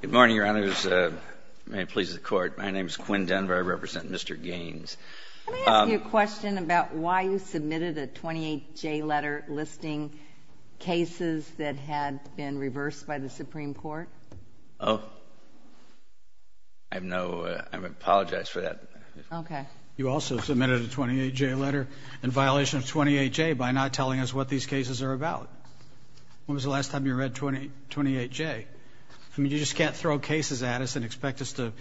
Good morning, Your Honors. May it please the Court, my name is Quinn Denver. I represent Mr. Gaines. Let me ask you a question about why you submitted a 28-J letter listing cases that had been reversed by the Supreme Court. Oh, I have no, I apologize for that. Okay. You also submitted a 28-J letter in violation of 28-J by not telling us what these cases are about. When was the last time you read 28-J? I mean, you just can't throw cases at us and expect us to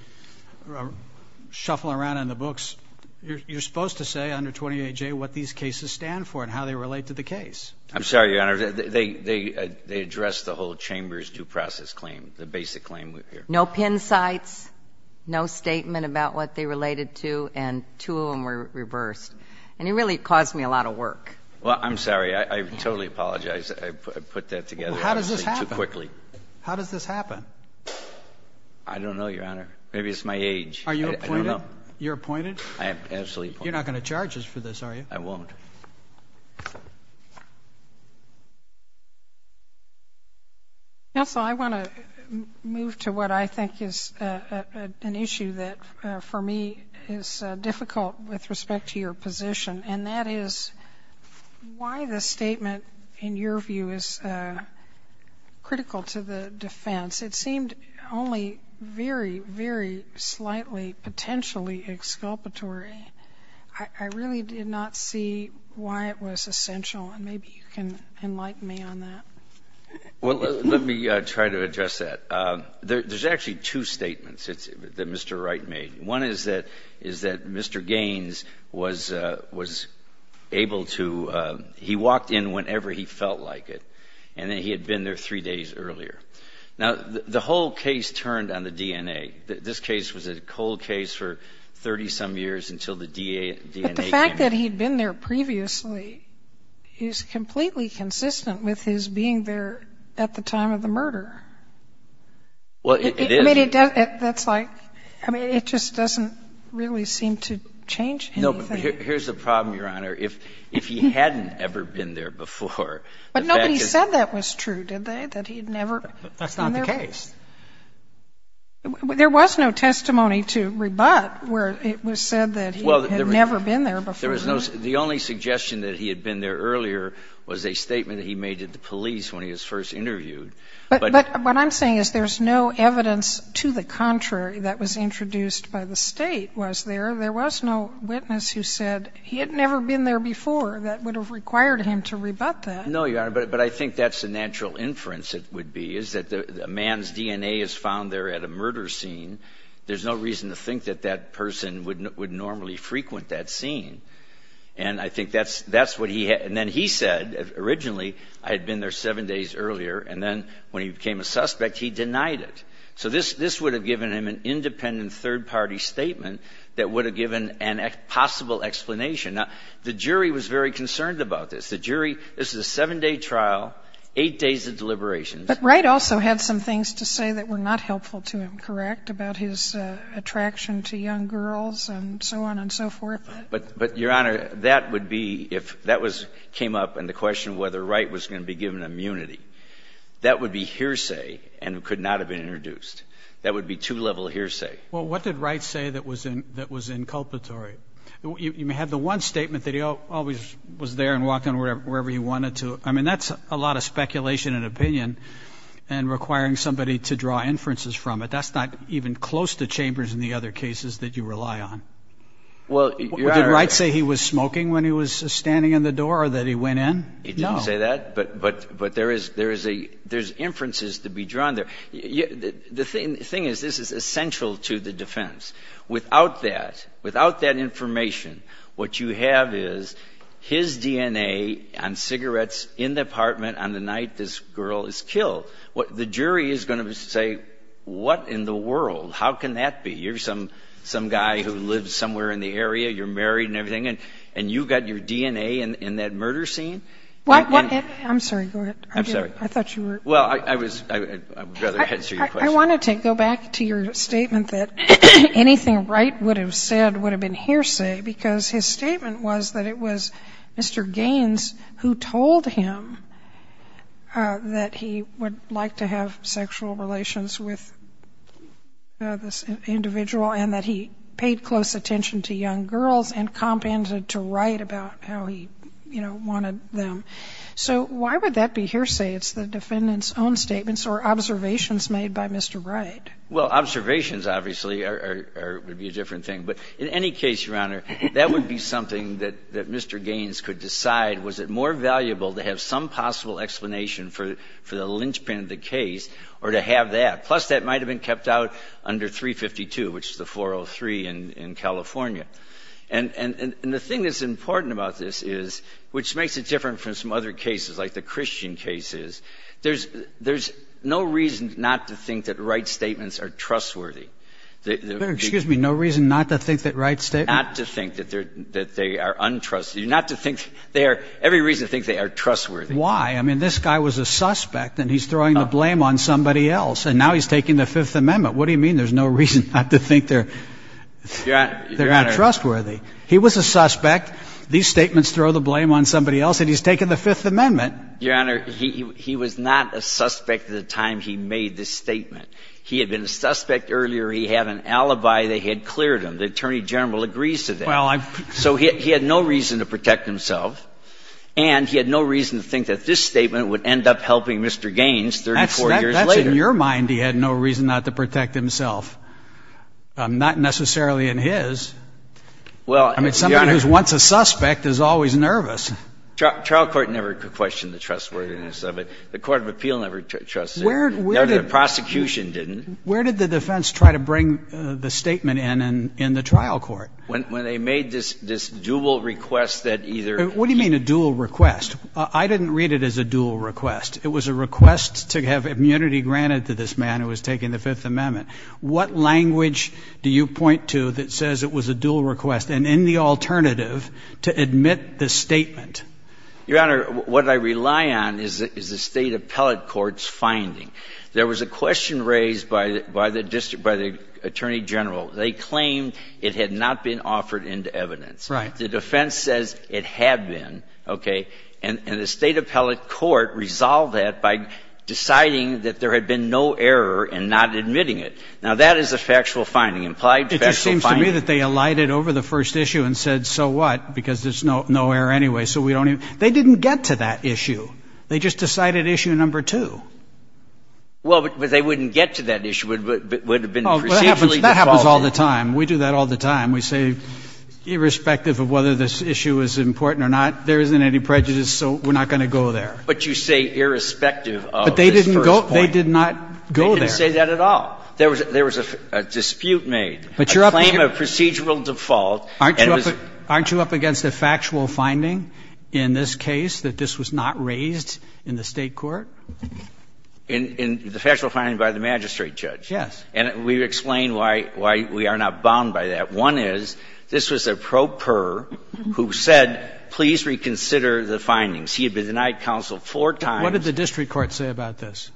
shuffle around in the books. You're supposed to say under 28-J what these cases stand for and how they relate to the case. I'm sorry, Your Honor, they addressed the whole Chamber's due process claim, the basic claim. No pin sites, no statement about what they related to, and two of them were reversed. And it really caused me a lot of trouble. I apologize. I put that together too quickly. How does this happen? I don't know, Your Honor. Maybe it's my age. Are you appointed? You're appointed? I am absolutely appointed. You're not going to charge us for this, are you? I won't. Counsel, I want to move to what I think is an issue that, for me, is difficult with respect to your position, and that is why the statement, in your view, is critical to the defense. It seemed only very, very slightly potentially exculpatory. I really did not see why it was essential, and maybe you can enlighten me on that. Well, let me try to address that. There's actually two statements that Mr. Wright made. One is that Mr. Gaines was able to, he walked in whenever he felt like it, and he had been there three days earlier. Now, the whole case turned on the DNA. This case was a cold case for 30-some years until the DNA came. But the fact that he'd been there previously is completely consistent with his being there at the time of the murder. Well, it is. I mean, that's like, I mean, it just doesn't really seem to change anything. No, but here's the problem, Your Honor. If he hadn't ever been there before, the fact that But nobody said that was true, did they, that he had never been there before? That's not the case. There was no testimony to rebut where it was said that he had never been there before. Well, there was no, the only suggestion that he had been there earlier was a statement that he made to the police when he was first interviewed. But what I'm saying is there's no evidence to the contrary that was introduced by the State was there. There was no witness who said he had never been there before that would have required him to rebut that. No, Your Honor, but I think that's the natural inference it would be, is that a man's DNA is found there at a murder scene. There's no reason to think that that person would normally frequent that scene. And I think that's what he had. And then he said, originally, I had been there seven days earlier. And then when he became a suspect, he denied it. So this would have given him an independent third-party statement that would have given a possible explanation. Now, the jury was very concerned about this. The jury, this is a seven-day trial, eight days of deliberations. But Wright also had some things to say that were not helpful to him, correct, about his attraction to young girls and so on and so forth? But, Your Honor, that would be, if that came up and the question of whether Wright was going to be given immunity, that would be hearsay and could not have been introduced. That would be two-level hearsay. Well, what did Wright say that was inculpatory? You had the one statement that he always was there and walked on wherever he wanted to. I mean, that's a lot of speculation and opinion and requiring somebody to draw inferences from it. That's not even close to Chambers and the other cases that you rely on. Well, Your Honor— Did Wright say he was smoking when he was standing in the door or that he went in? He didn't say that, but there's inferences to be drawn there. The thing is, this is essential to the defense. Without that, without that information, what you have is his DNA on cigarettes in the apartment on the night this girl is killed. The jury is going to say, what in the world? How can that be? You're some guy who lives somewhere in the area, you're married and everything, and you've got your DNA in that murder scene? I'm sorry. Go ahead. I'm sorry. I thought you were— Well, I would rather answer your question. I wanted to go back to your statement that anything Wright would have said would have been hearsay because his statement was that it was Mr. Gaines who told him that he would like to have sexual relations with this individual and that he paid close attention to young girls and compended to Wright about how he, you know, wanted them. So why would that be hearsay? It's the defendant's own statements or observations made by Mr. Wright. Well, observations, obviously, would be a different thing. But in any case, Your Honor, that would be something that Mr. Gaines could decide. Was it more valuable to have some possible explanation for the linchpin of the case or to have that? Plus, that might have been kept out under 352, which is the 403 in California. And the thing that's important about this is, which makes it different from some other cases like the Christian cases, there's no reason not to think that Wright's statements are trustworthy. Excuse me. No reason not to think that Wright's statements— Not to think that they are untrustworthy. Not to think—every reason to think they are trustworthy. Why? I mean, this guy was a suspect, and he's throwing the blame on somebody else. And now he's taking the Fifth Amendment. What do you mean there's no reason not to think they're untrustworthy? Your Honor— He was a suspect. These statements throw the blame on somebody else, and he's taking the Fifth Amendment. Your Honor, he was not a suspect at the time he made this statement. He had been a suspect earlier. He had an alibi. They had cleared him. The Attorney General agrees to that. Well, I've— So he had no reason to protect himself, and he had no reason to think that this statement would end up helping Mr. Gaines 34 years later. That's in your mind he had no reason not to protect himself, not necessarily in his. Well, Your Honor— I mean, somebody who's once a suspect is always nervous. Trial court never questioned the trustworthiness of it. The court of appeal never trusted it. Where did— The prosecution didn't. Where did the defense try to bring the statement in in the trial court? When they made this dual request that either— What do you mean a dual request? I didn't read it as a dual request. It was a request to have immunity granted to this man who was taking the Fifth Amendment. What language do you point to that says it was a dual request, and in the alternative, to admit the statement? Your Honor, what I rely on is the State Appellate Court's finding. There was a question raised by the attorney general. They claimed it had not been offered into evidence. The defense says it had been, okay, and the State Appellate Court resolved that by deciding that there had been no error in not admitting it. Now, that is a factual finding, implied factual finding. It just seems to me that they alighted over the first issue and said, so what, because there's no error anyway, so we don't even—they didn't get to that issue. They just decided issue number two. Well, but they wouldn't get to that issue. It would have been procedurally defaulted. That happens all the time. We do that all the time. We say, irrespective of whether this issue is important or not, there isn't any prejudice, so we're not going to go there. But you say irrespective of this first point. But they didn't go—they did not go there. They didn't say that at all. There was a dispute made, a claim of procedural default, and it was— Aren't you up against a factual finding in this case that this was not raised in the State court? In the factual finding by the magistrate judge. Yes. And we've explained why we are not bound by that. One is, this was a pro per who said, please reconsider the findings. He had been denied counsel four times. What did the district court say about this?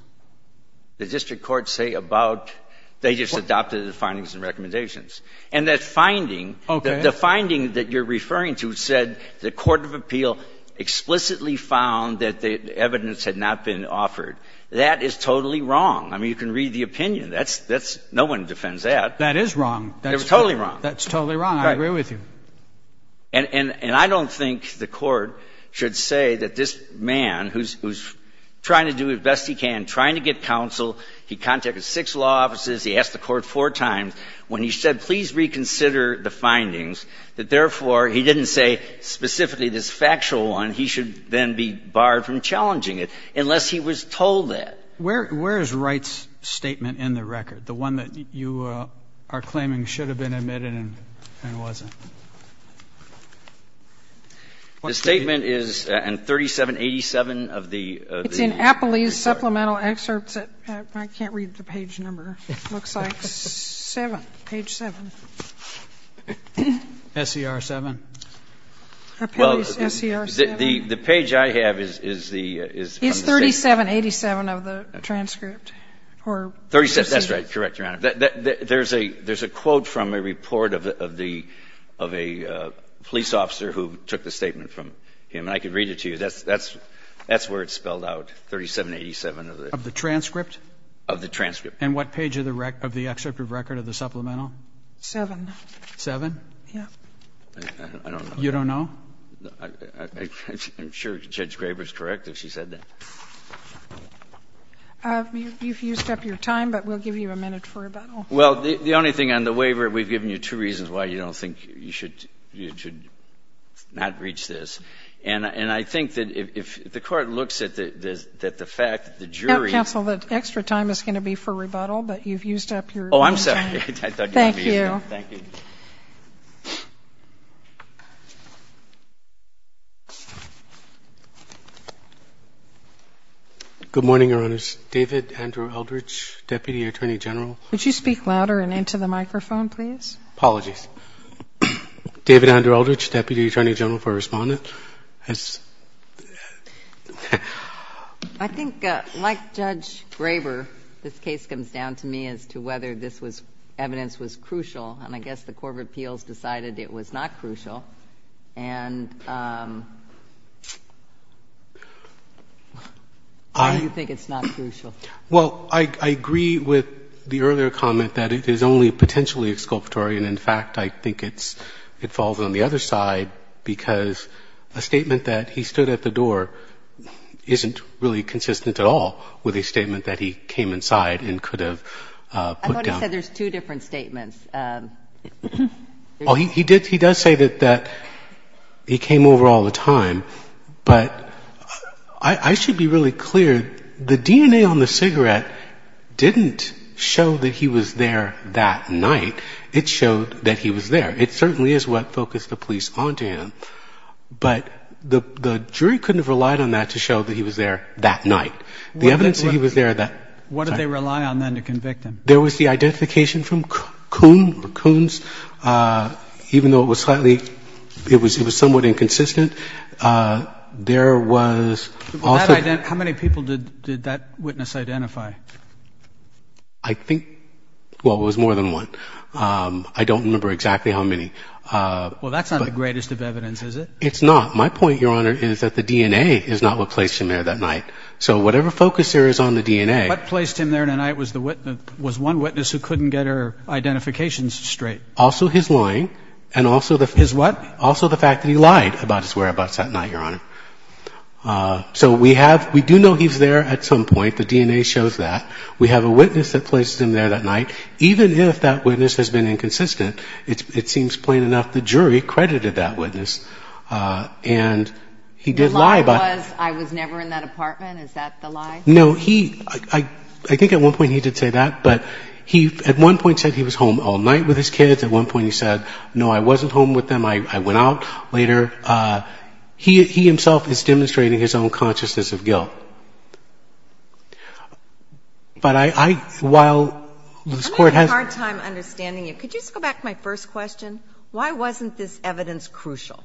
The district court say about—they just adopted the findings and recommendations. And that finding— Okay. The finding that you're referring to said the court of appeal explicitly found that the evidence had not been offered. That is totally wrong. I mean, you can read the opinion. That's—no one defends that. That is wrong. That's totally wrong. That's totally wrong. I agree with you. And I don't think the court should say that this man, who's trying to do the best he can, trying to get counsel, he contacted six law offices, he asked the court four times, when he said, please reconsider the findings, that, therefore, he didn't say specifically this factual one, he should then be barred from challenging it, unless he was told that. Where is Wright's statement in the record, the one that you are claiming should have been admitted and wasn't? The statement is in 3787 of the— It's in Appley's supplemental excerpts. I can't read the page number. It looks like 7, page 7. S.E.R. 7. Appley's S.E.R. 7. The page I have is the— It's 3787 of the transcript. 3787, that's right, correct, Your Honor. There's a quote from a report of a police officer who took the statement from him. I can read it to you. That's where it's spelled out, 3787 of the— Of the transcript? Of the transcript. And what page of the record, of the excerpt of record of the supplemental? 7. 7? Yes. I don't know. You don't know? I'm sure Judge Graber is correct if she said that. You've used up your time, but we'll give you a minute for rebuttal. Well, the only thing on the waiver, we've given you two reasons why you don't think you should not reach this. And I think that if the Court looks at the fact that the jury— Counsel, the extra time is going to be for rebuttal, but you've used up your time. Oh, I'm sorry. Thank you. Thank you. Good morning, Your Honors. David Andrew Eldridge, Deputy Attorney General. Would you speak louder and into the microphone, please? Apologies. David Andrew Eldridge, Deputy Attorney General for Respondent. I think, like Judge Graber, this case comes down to me as to whether this was— I think it's crucial, and I guess the Court of Appeals decided it was not crucial. And why do you think it's not crucial? Well, I agree with the earlier comment that it is only potentially exculpatory, and in fact, I think it falls on the other side because a statement that he stood at the door isn't really consistent at all with a statement that he came inside and could have put down. He said there's two different statements. Well, he does say that he came over all the time, but I should be really clear. The DNA on the cigarette didn't show that he was there that night. It showed that he was there. It certainly is what focused the police onto him. But the jury couldn't have relied on that to show that he was there that night. The evidence that he was there that— What did they rely on then to convict him? There was the identification from Kuhn or Kuhns. Even though it was slightly—it was somewhat inconsistent, there was also— How many people did that witness identify? I think—well, it was more than one. I don't remember exactly how many. Well, that's not the greatest of evidence, is it? It's not. My point, Your Honor, is that the DNA is not what placed him there that night. So whatever focus there is on the DNA— There was one witness who couldn't get her identifications straight. Also his lying, and also the—his what? Also the fact that he lied about his whereabouts that night, Your Honor. So we have—we do know he was there at some point. The DNA shows that. We have a witness that placed him there that night. Even if that witness has been inconsistent, it seems plain enough the jury credited that witness. And he did lie about— The lie was, I was never in that apartment? Is that the lie? No. No, he—I think at one point he did say that, but he at one point said he was home all night with his kids. At one point he said, no, I wasn't home with them. I went out later. He himself is demonstrating his own consciousness of guilt. But I—while this Court has— I'm having a hard time understanding you. Could you just go back to my first question? Why wasn't this evidence crucial?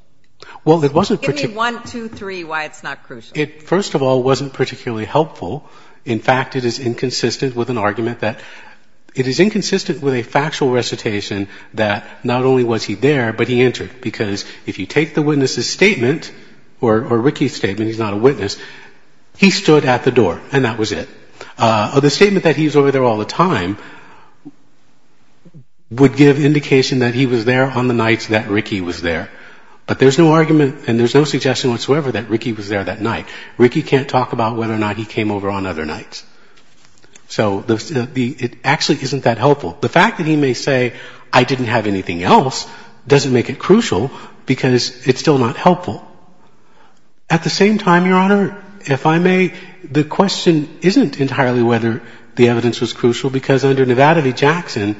Well, it wasn't— Give me one, two, three why it's not crucial. It, first of all, wasn't particularly helpful. In fact, it is inconsistent with an argument that—it is inconsistent with a factual recitation that not only was he there, but he entered. Because if you take the witness's statement, or Ricky's statement, he's not a witness, he stood at the door and that was it. The statement that he was over there all the time would give indication that he was there on the night that Ricky was there. But there's no argument and there's no suggestion whatsoever that Ricky was there that night. Ricky can't talk about whether or not he came over on other nights. So the—it actually isn't that helpful. The fact that he may say, I didn't have anything else, doesn't make it crucial because it's still not helpful. At the same time, Your Honor, if I may, the question isn't entirely whether the evidence was crucial because under Nevada v. Jackson,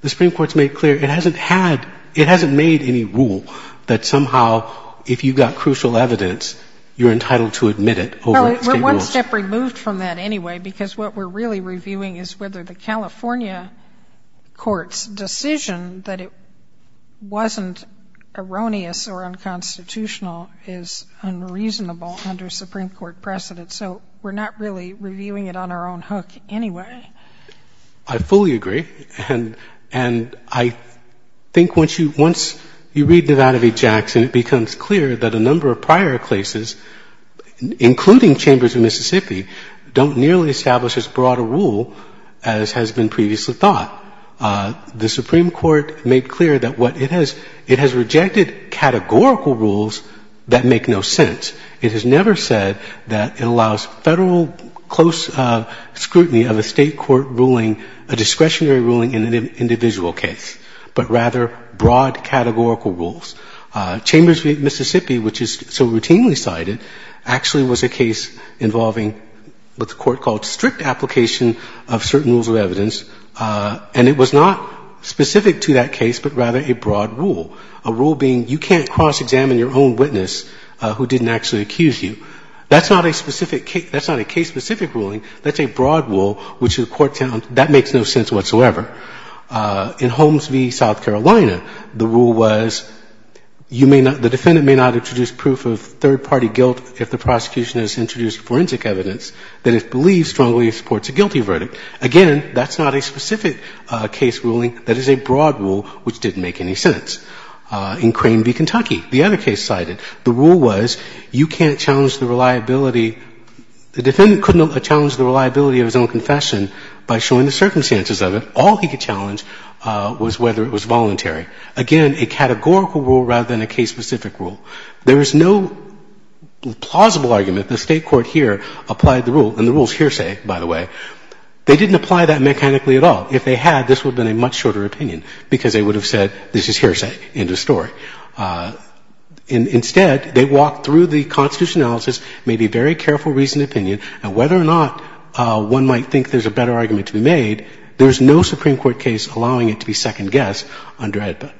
the Supreme Court's made clear it hasn't had—it hasn't made any rule that somehow if you've got crucial evidence, you're entitled to admit it over state rules. Well, we're one step removed from that anyway because what we're really reviewing is whether the California court's decision that it wasn't erroneous or unconstitutional is unreasonable under Supreme Court precedent. So we're not really reviewing it on our own hook anyway. I fully agree. And I think once you—once you read Nevada v. Jackson, it becomes clear that a number of prior cases, including Chambers v. Mississippi, don't nearly establish as broad a rule as has been previously thought. The Supreme Court made clear that what it has—it has rejected categorical rules that make no sense. It has never said that it allows federal close scrutiny of a state court ruling, a discretionary ruling in an individual case, but rather broad categorical rules. Chambers v. Mississippi, which is so routinely cited, actually was a case involving what the court called strict application of certain rules of evidence. And it was not specific to that case, but rather a broad rule, a rule being you can't cross-examine your own witness who didn't actually accuse you. That's not a specific case—that's not a case-specific ruling. That's a broad rule, which the court found that makes no sense whatsoever. In Holmes v. South Carolina, the rule was you may not—the defendant may not introduce proof of third-party guilt if the prosecution has introduced forensic evidence that it believes strongly supports a guilty verdict. Again, that's not a specific case ruling. That is a broad rule, which didn't make any sense. In Crane v. Kentucky, the other case cited, the rule was you can't challenge the reliability—the defendant couldn't challenge the reliability of his own confession by showing the circumstances of it. All he could challenge was whether it was voluntary. Again, a categorical rule rather than a case-specific rule. There is no plausible argument. The State court here applied the rule—and the rule is hearsay, by the way. They didn't apply that mechanically at all. If they had, this would have been a much shorter opinion because they would have said this is hearsay, end of story. Instead, they walked through the constitutional analysis, made a very careful reasoned one might think there's a better argument to be made. There's no Supreme Court case allowing it to be second-guessed under EDPA.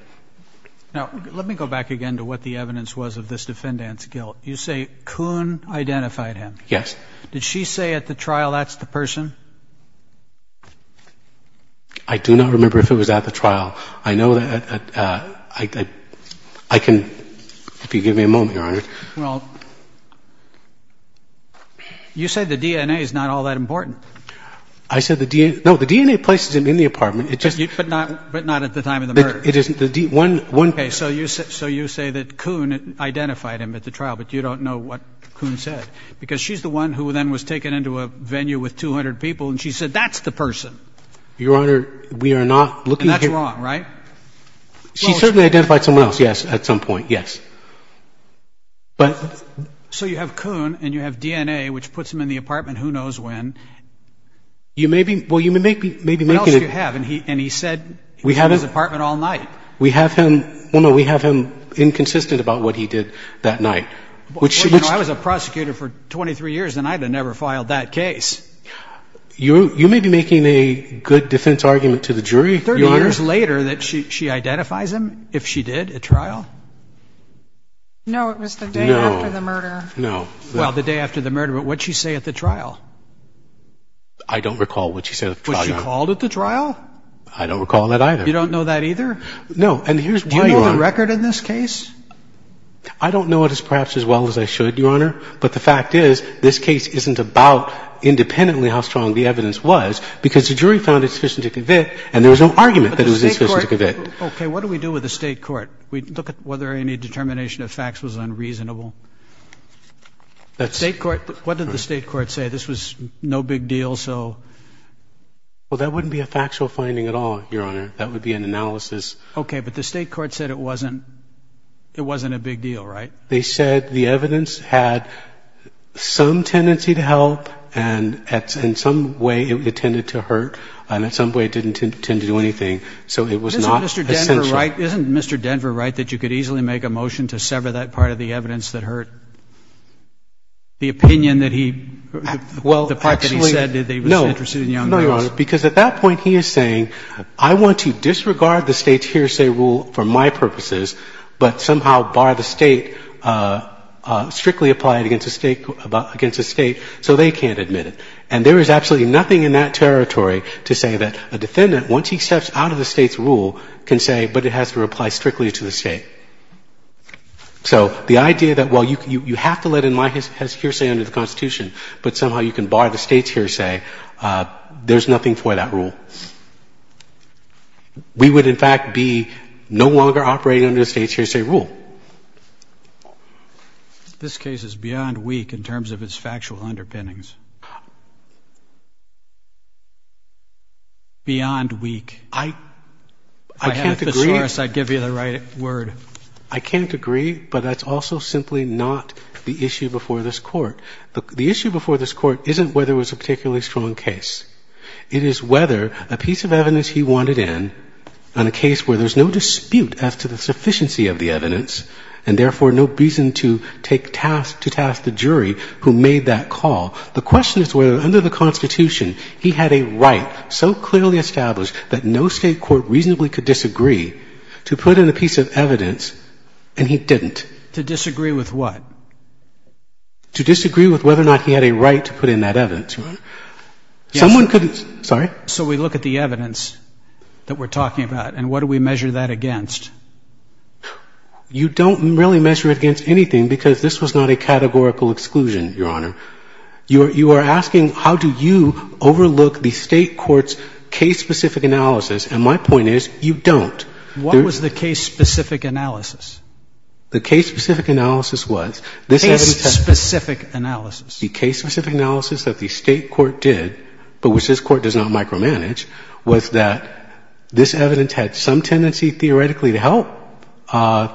Now, let me go back again to what the evidence was of this defendant's guilt. You say Kuhn identified him. Yes. Did she say at the trial, that's the person? I do not remember if it was at the trial. I know that—I can—if you give me a moment, Your Honor. Well, you said the DNA is not all that important. I said the DNA—no, the DNA places him in the apartment. But not at the time of the murder. It isn't. Okay, so you say that Kuhn identified him at the trial, but you don't know what Kuhn said. Because she's the one who then was taken into a venue with 200 people, and she said, that's the person. Your Honor, we are not looking— And that's wrong, right? She certainly identified someone else, yes, at some point, yes. But— So you have Kuhn, and you have DNA, which puts him in the apartment who knows when. You may be—well, you may be making— What else do you have? And he said he was in his apartment all night. We have him—well, no, we have him inconsistent about what he did that night. Well, you know, I was a prosecutor for 23 years, and I'd have never filed that case. You may be making a good defense argument to the jury, Your Honor. Your Honor, is it 30 years later that she identifies him, if she did, at trial? No, it was the day after the murder. No. Well, the day after the murder. But what'd she say at the trial? I don't recall what she said at the trial, Your Honor. Was she called at the trial? I don't recall that either. You don't know that either? No, and here's why, Your Honor— Do you know the record in this case? I don't know it as perhaps as well as I should, Your Honor. But the fact is, this case isn't about, independently, how strong the evidence was, because the jury found it sufficient to convict, and there was no argument that it was sufficient to convict. Okay, what do we do with the state court? We look at whether any determination of facts was unreasonable. The state court—what did the state court say? This was no big deal, so— Well, that wouldn't be a factual finding at all, Your Honor. That would be an analysis. Okay, but the state court said it wasn't a big deal, right? They said the evidence had some tendency to help, and in some way it tended to hurt, and in some way it didn't tend to do anything, so it was not essential. Isn't Mr. Denver right that you could easily make a motion to sever that part of the evidence that hurt? The opinion that he—well, the part that he said that he was interested in young girls. No, Your Honor, because at that point he is saying, I want to disregard the state's hearsay rule for my purposes, but somehow bar the state, strictly apply it against a state, so they can't admit it. And there is absolutely nothing in that territory to say that a defendant, once he steps out of the state's rule, can say, but it has to apply strictly to the state. So the idea that, well, you have to let in my hearsay under the Constitution, but somehow you can bar the state's hearsay, there's nothing for that rule. We would, in fact, be no longer operating under the state's hearsay rule. This case is beyond weak in terms of its factual underpinnings. Beyond weak. If I had a thesaurus, I'd give you the right word. I can't agree, but that's also simply not the issue before this Court. The issue before this Court isn't whether it was a particularly strong case. It is whether a piece of evidence he wanted in, on a case where there's no dispute as to the sufficiency of the evidence, and therefore no reason to task the jury who made that call. The question is whether under the Constitution he had a right so clearly established that no state court reasonably could disagree to put in a piece of evidence, and he didn't. To disagree with what? To disagree with whether or not he had a right to put in that evidence. Someone could, sorry? So we look at the evidence that we're talking about, and what do we measure that against? You don't really measure it against anything, because this was not a categorical exclusion, Your Honor. You are asking how do you overlook the state court's case-specific analysis, and my point is, you don't. What was the case-specific analysis? The case-specific analysis was. Case-specific analysis. The case-specific analysis that the state court did, but which this court does not micromanage, was that this evidence had some tendency theoretically to help.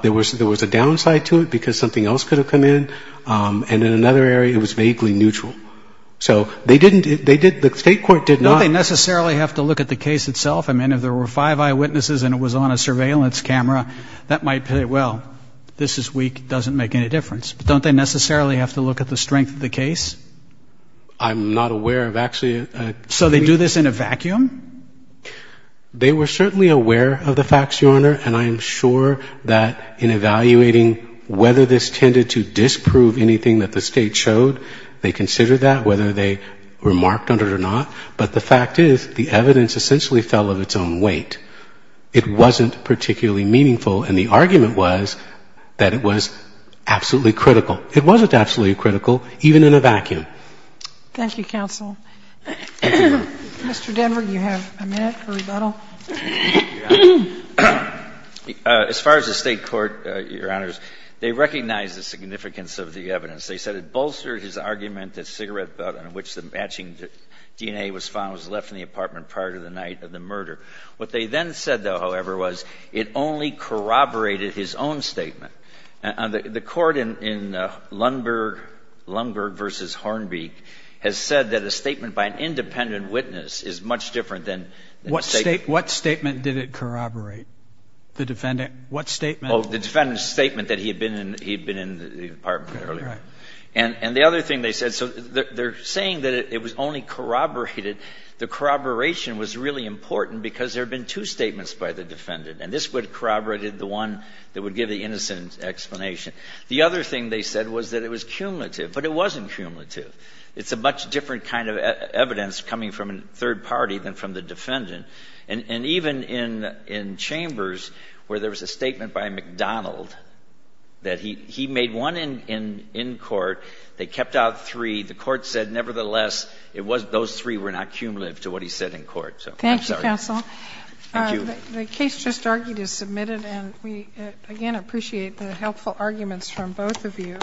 There was a downside to it because something else could have come in, and in another area it was vaguely neutral. So they didn't, the state court did not. Don't they necessarily have to look at the case itself? I mean, if there were five eyewitnesses and it was on a surveillance camera, that might say, well, this is weak, doesn't make any difference. But don't they necessarily have to look at the strength of the case? I'm not aware of actually a. So they do this in a vacuum? They were certainly aware of the facts, Your Honor, and I am sure that in evaluating whether this tended to disprove anything that the state showed, they considered that, whether they remarked on it or not. But the fact is, the evidence essentially fell of its own weight. It wasn't particularly meaningful. And the argument was that it was absolutely critical. It wasn't absolutely critical, even in a vacuum. Thank you, counsel. Mr. Denver, you have a minute for rebuttal. Thank you, Your Honor. As far as the state court, Your Honors, they recognized the significance of the evidence. They said it bolstered his argument that cigarette butt, on which the matching DNA was found, was left in the apartment prior to the night of the murder. What they then said, though, however, was it only corroborated his own statement. The court in Lundberg v. Hornbeek has said that a statement by an independent witness is much different than... What statement did it corroborate? The defendant? What statement? Oh, the defendant's statement that he had been in the apartment earlier. And the other thing they said, so they're saying that it was only corroborated. The corroboration was really important because there had been two statements by the defendant, and this would corroborate the one that would give the innocent explanation. The other thing they said was that it was cumulative, but it wasn't cumulative. It's a much different kind of evidence coming from a third party than from the defendant. And even in chambers where there was a statement by McDonald that he made one in court, they kept out three. The court said, nevertheless, those three were not cumulative to what he said in court. Thank you, counsel. Thank you. The case just argued is submitted, and we, again, appreciate the helpful arguments from both of you.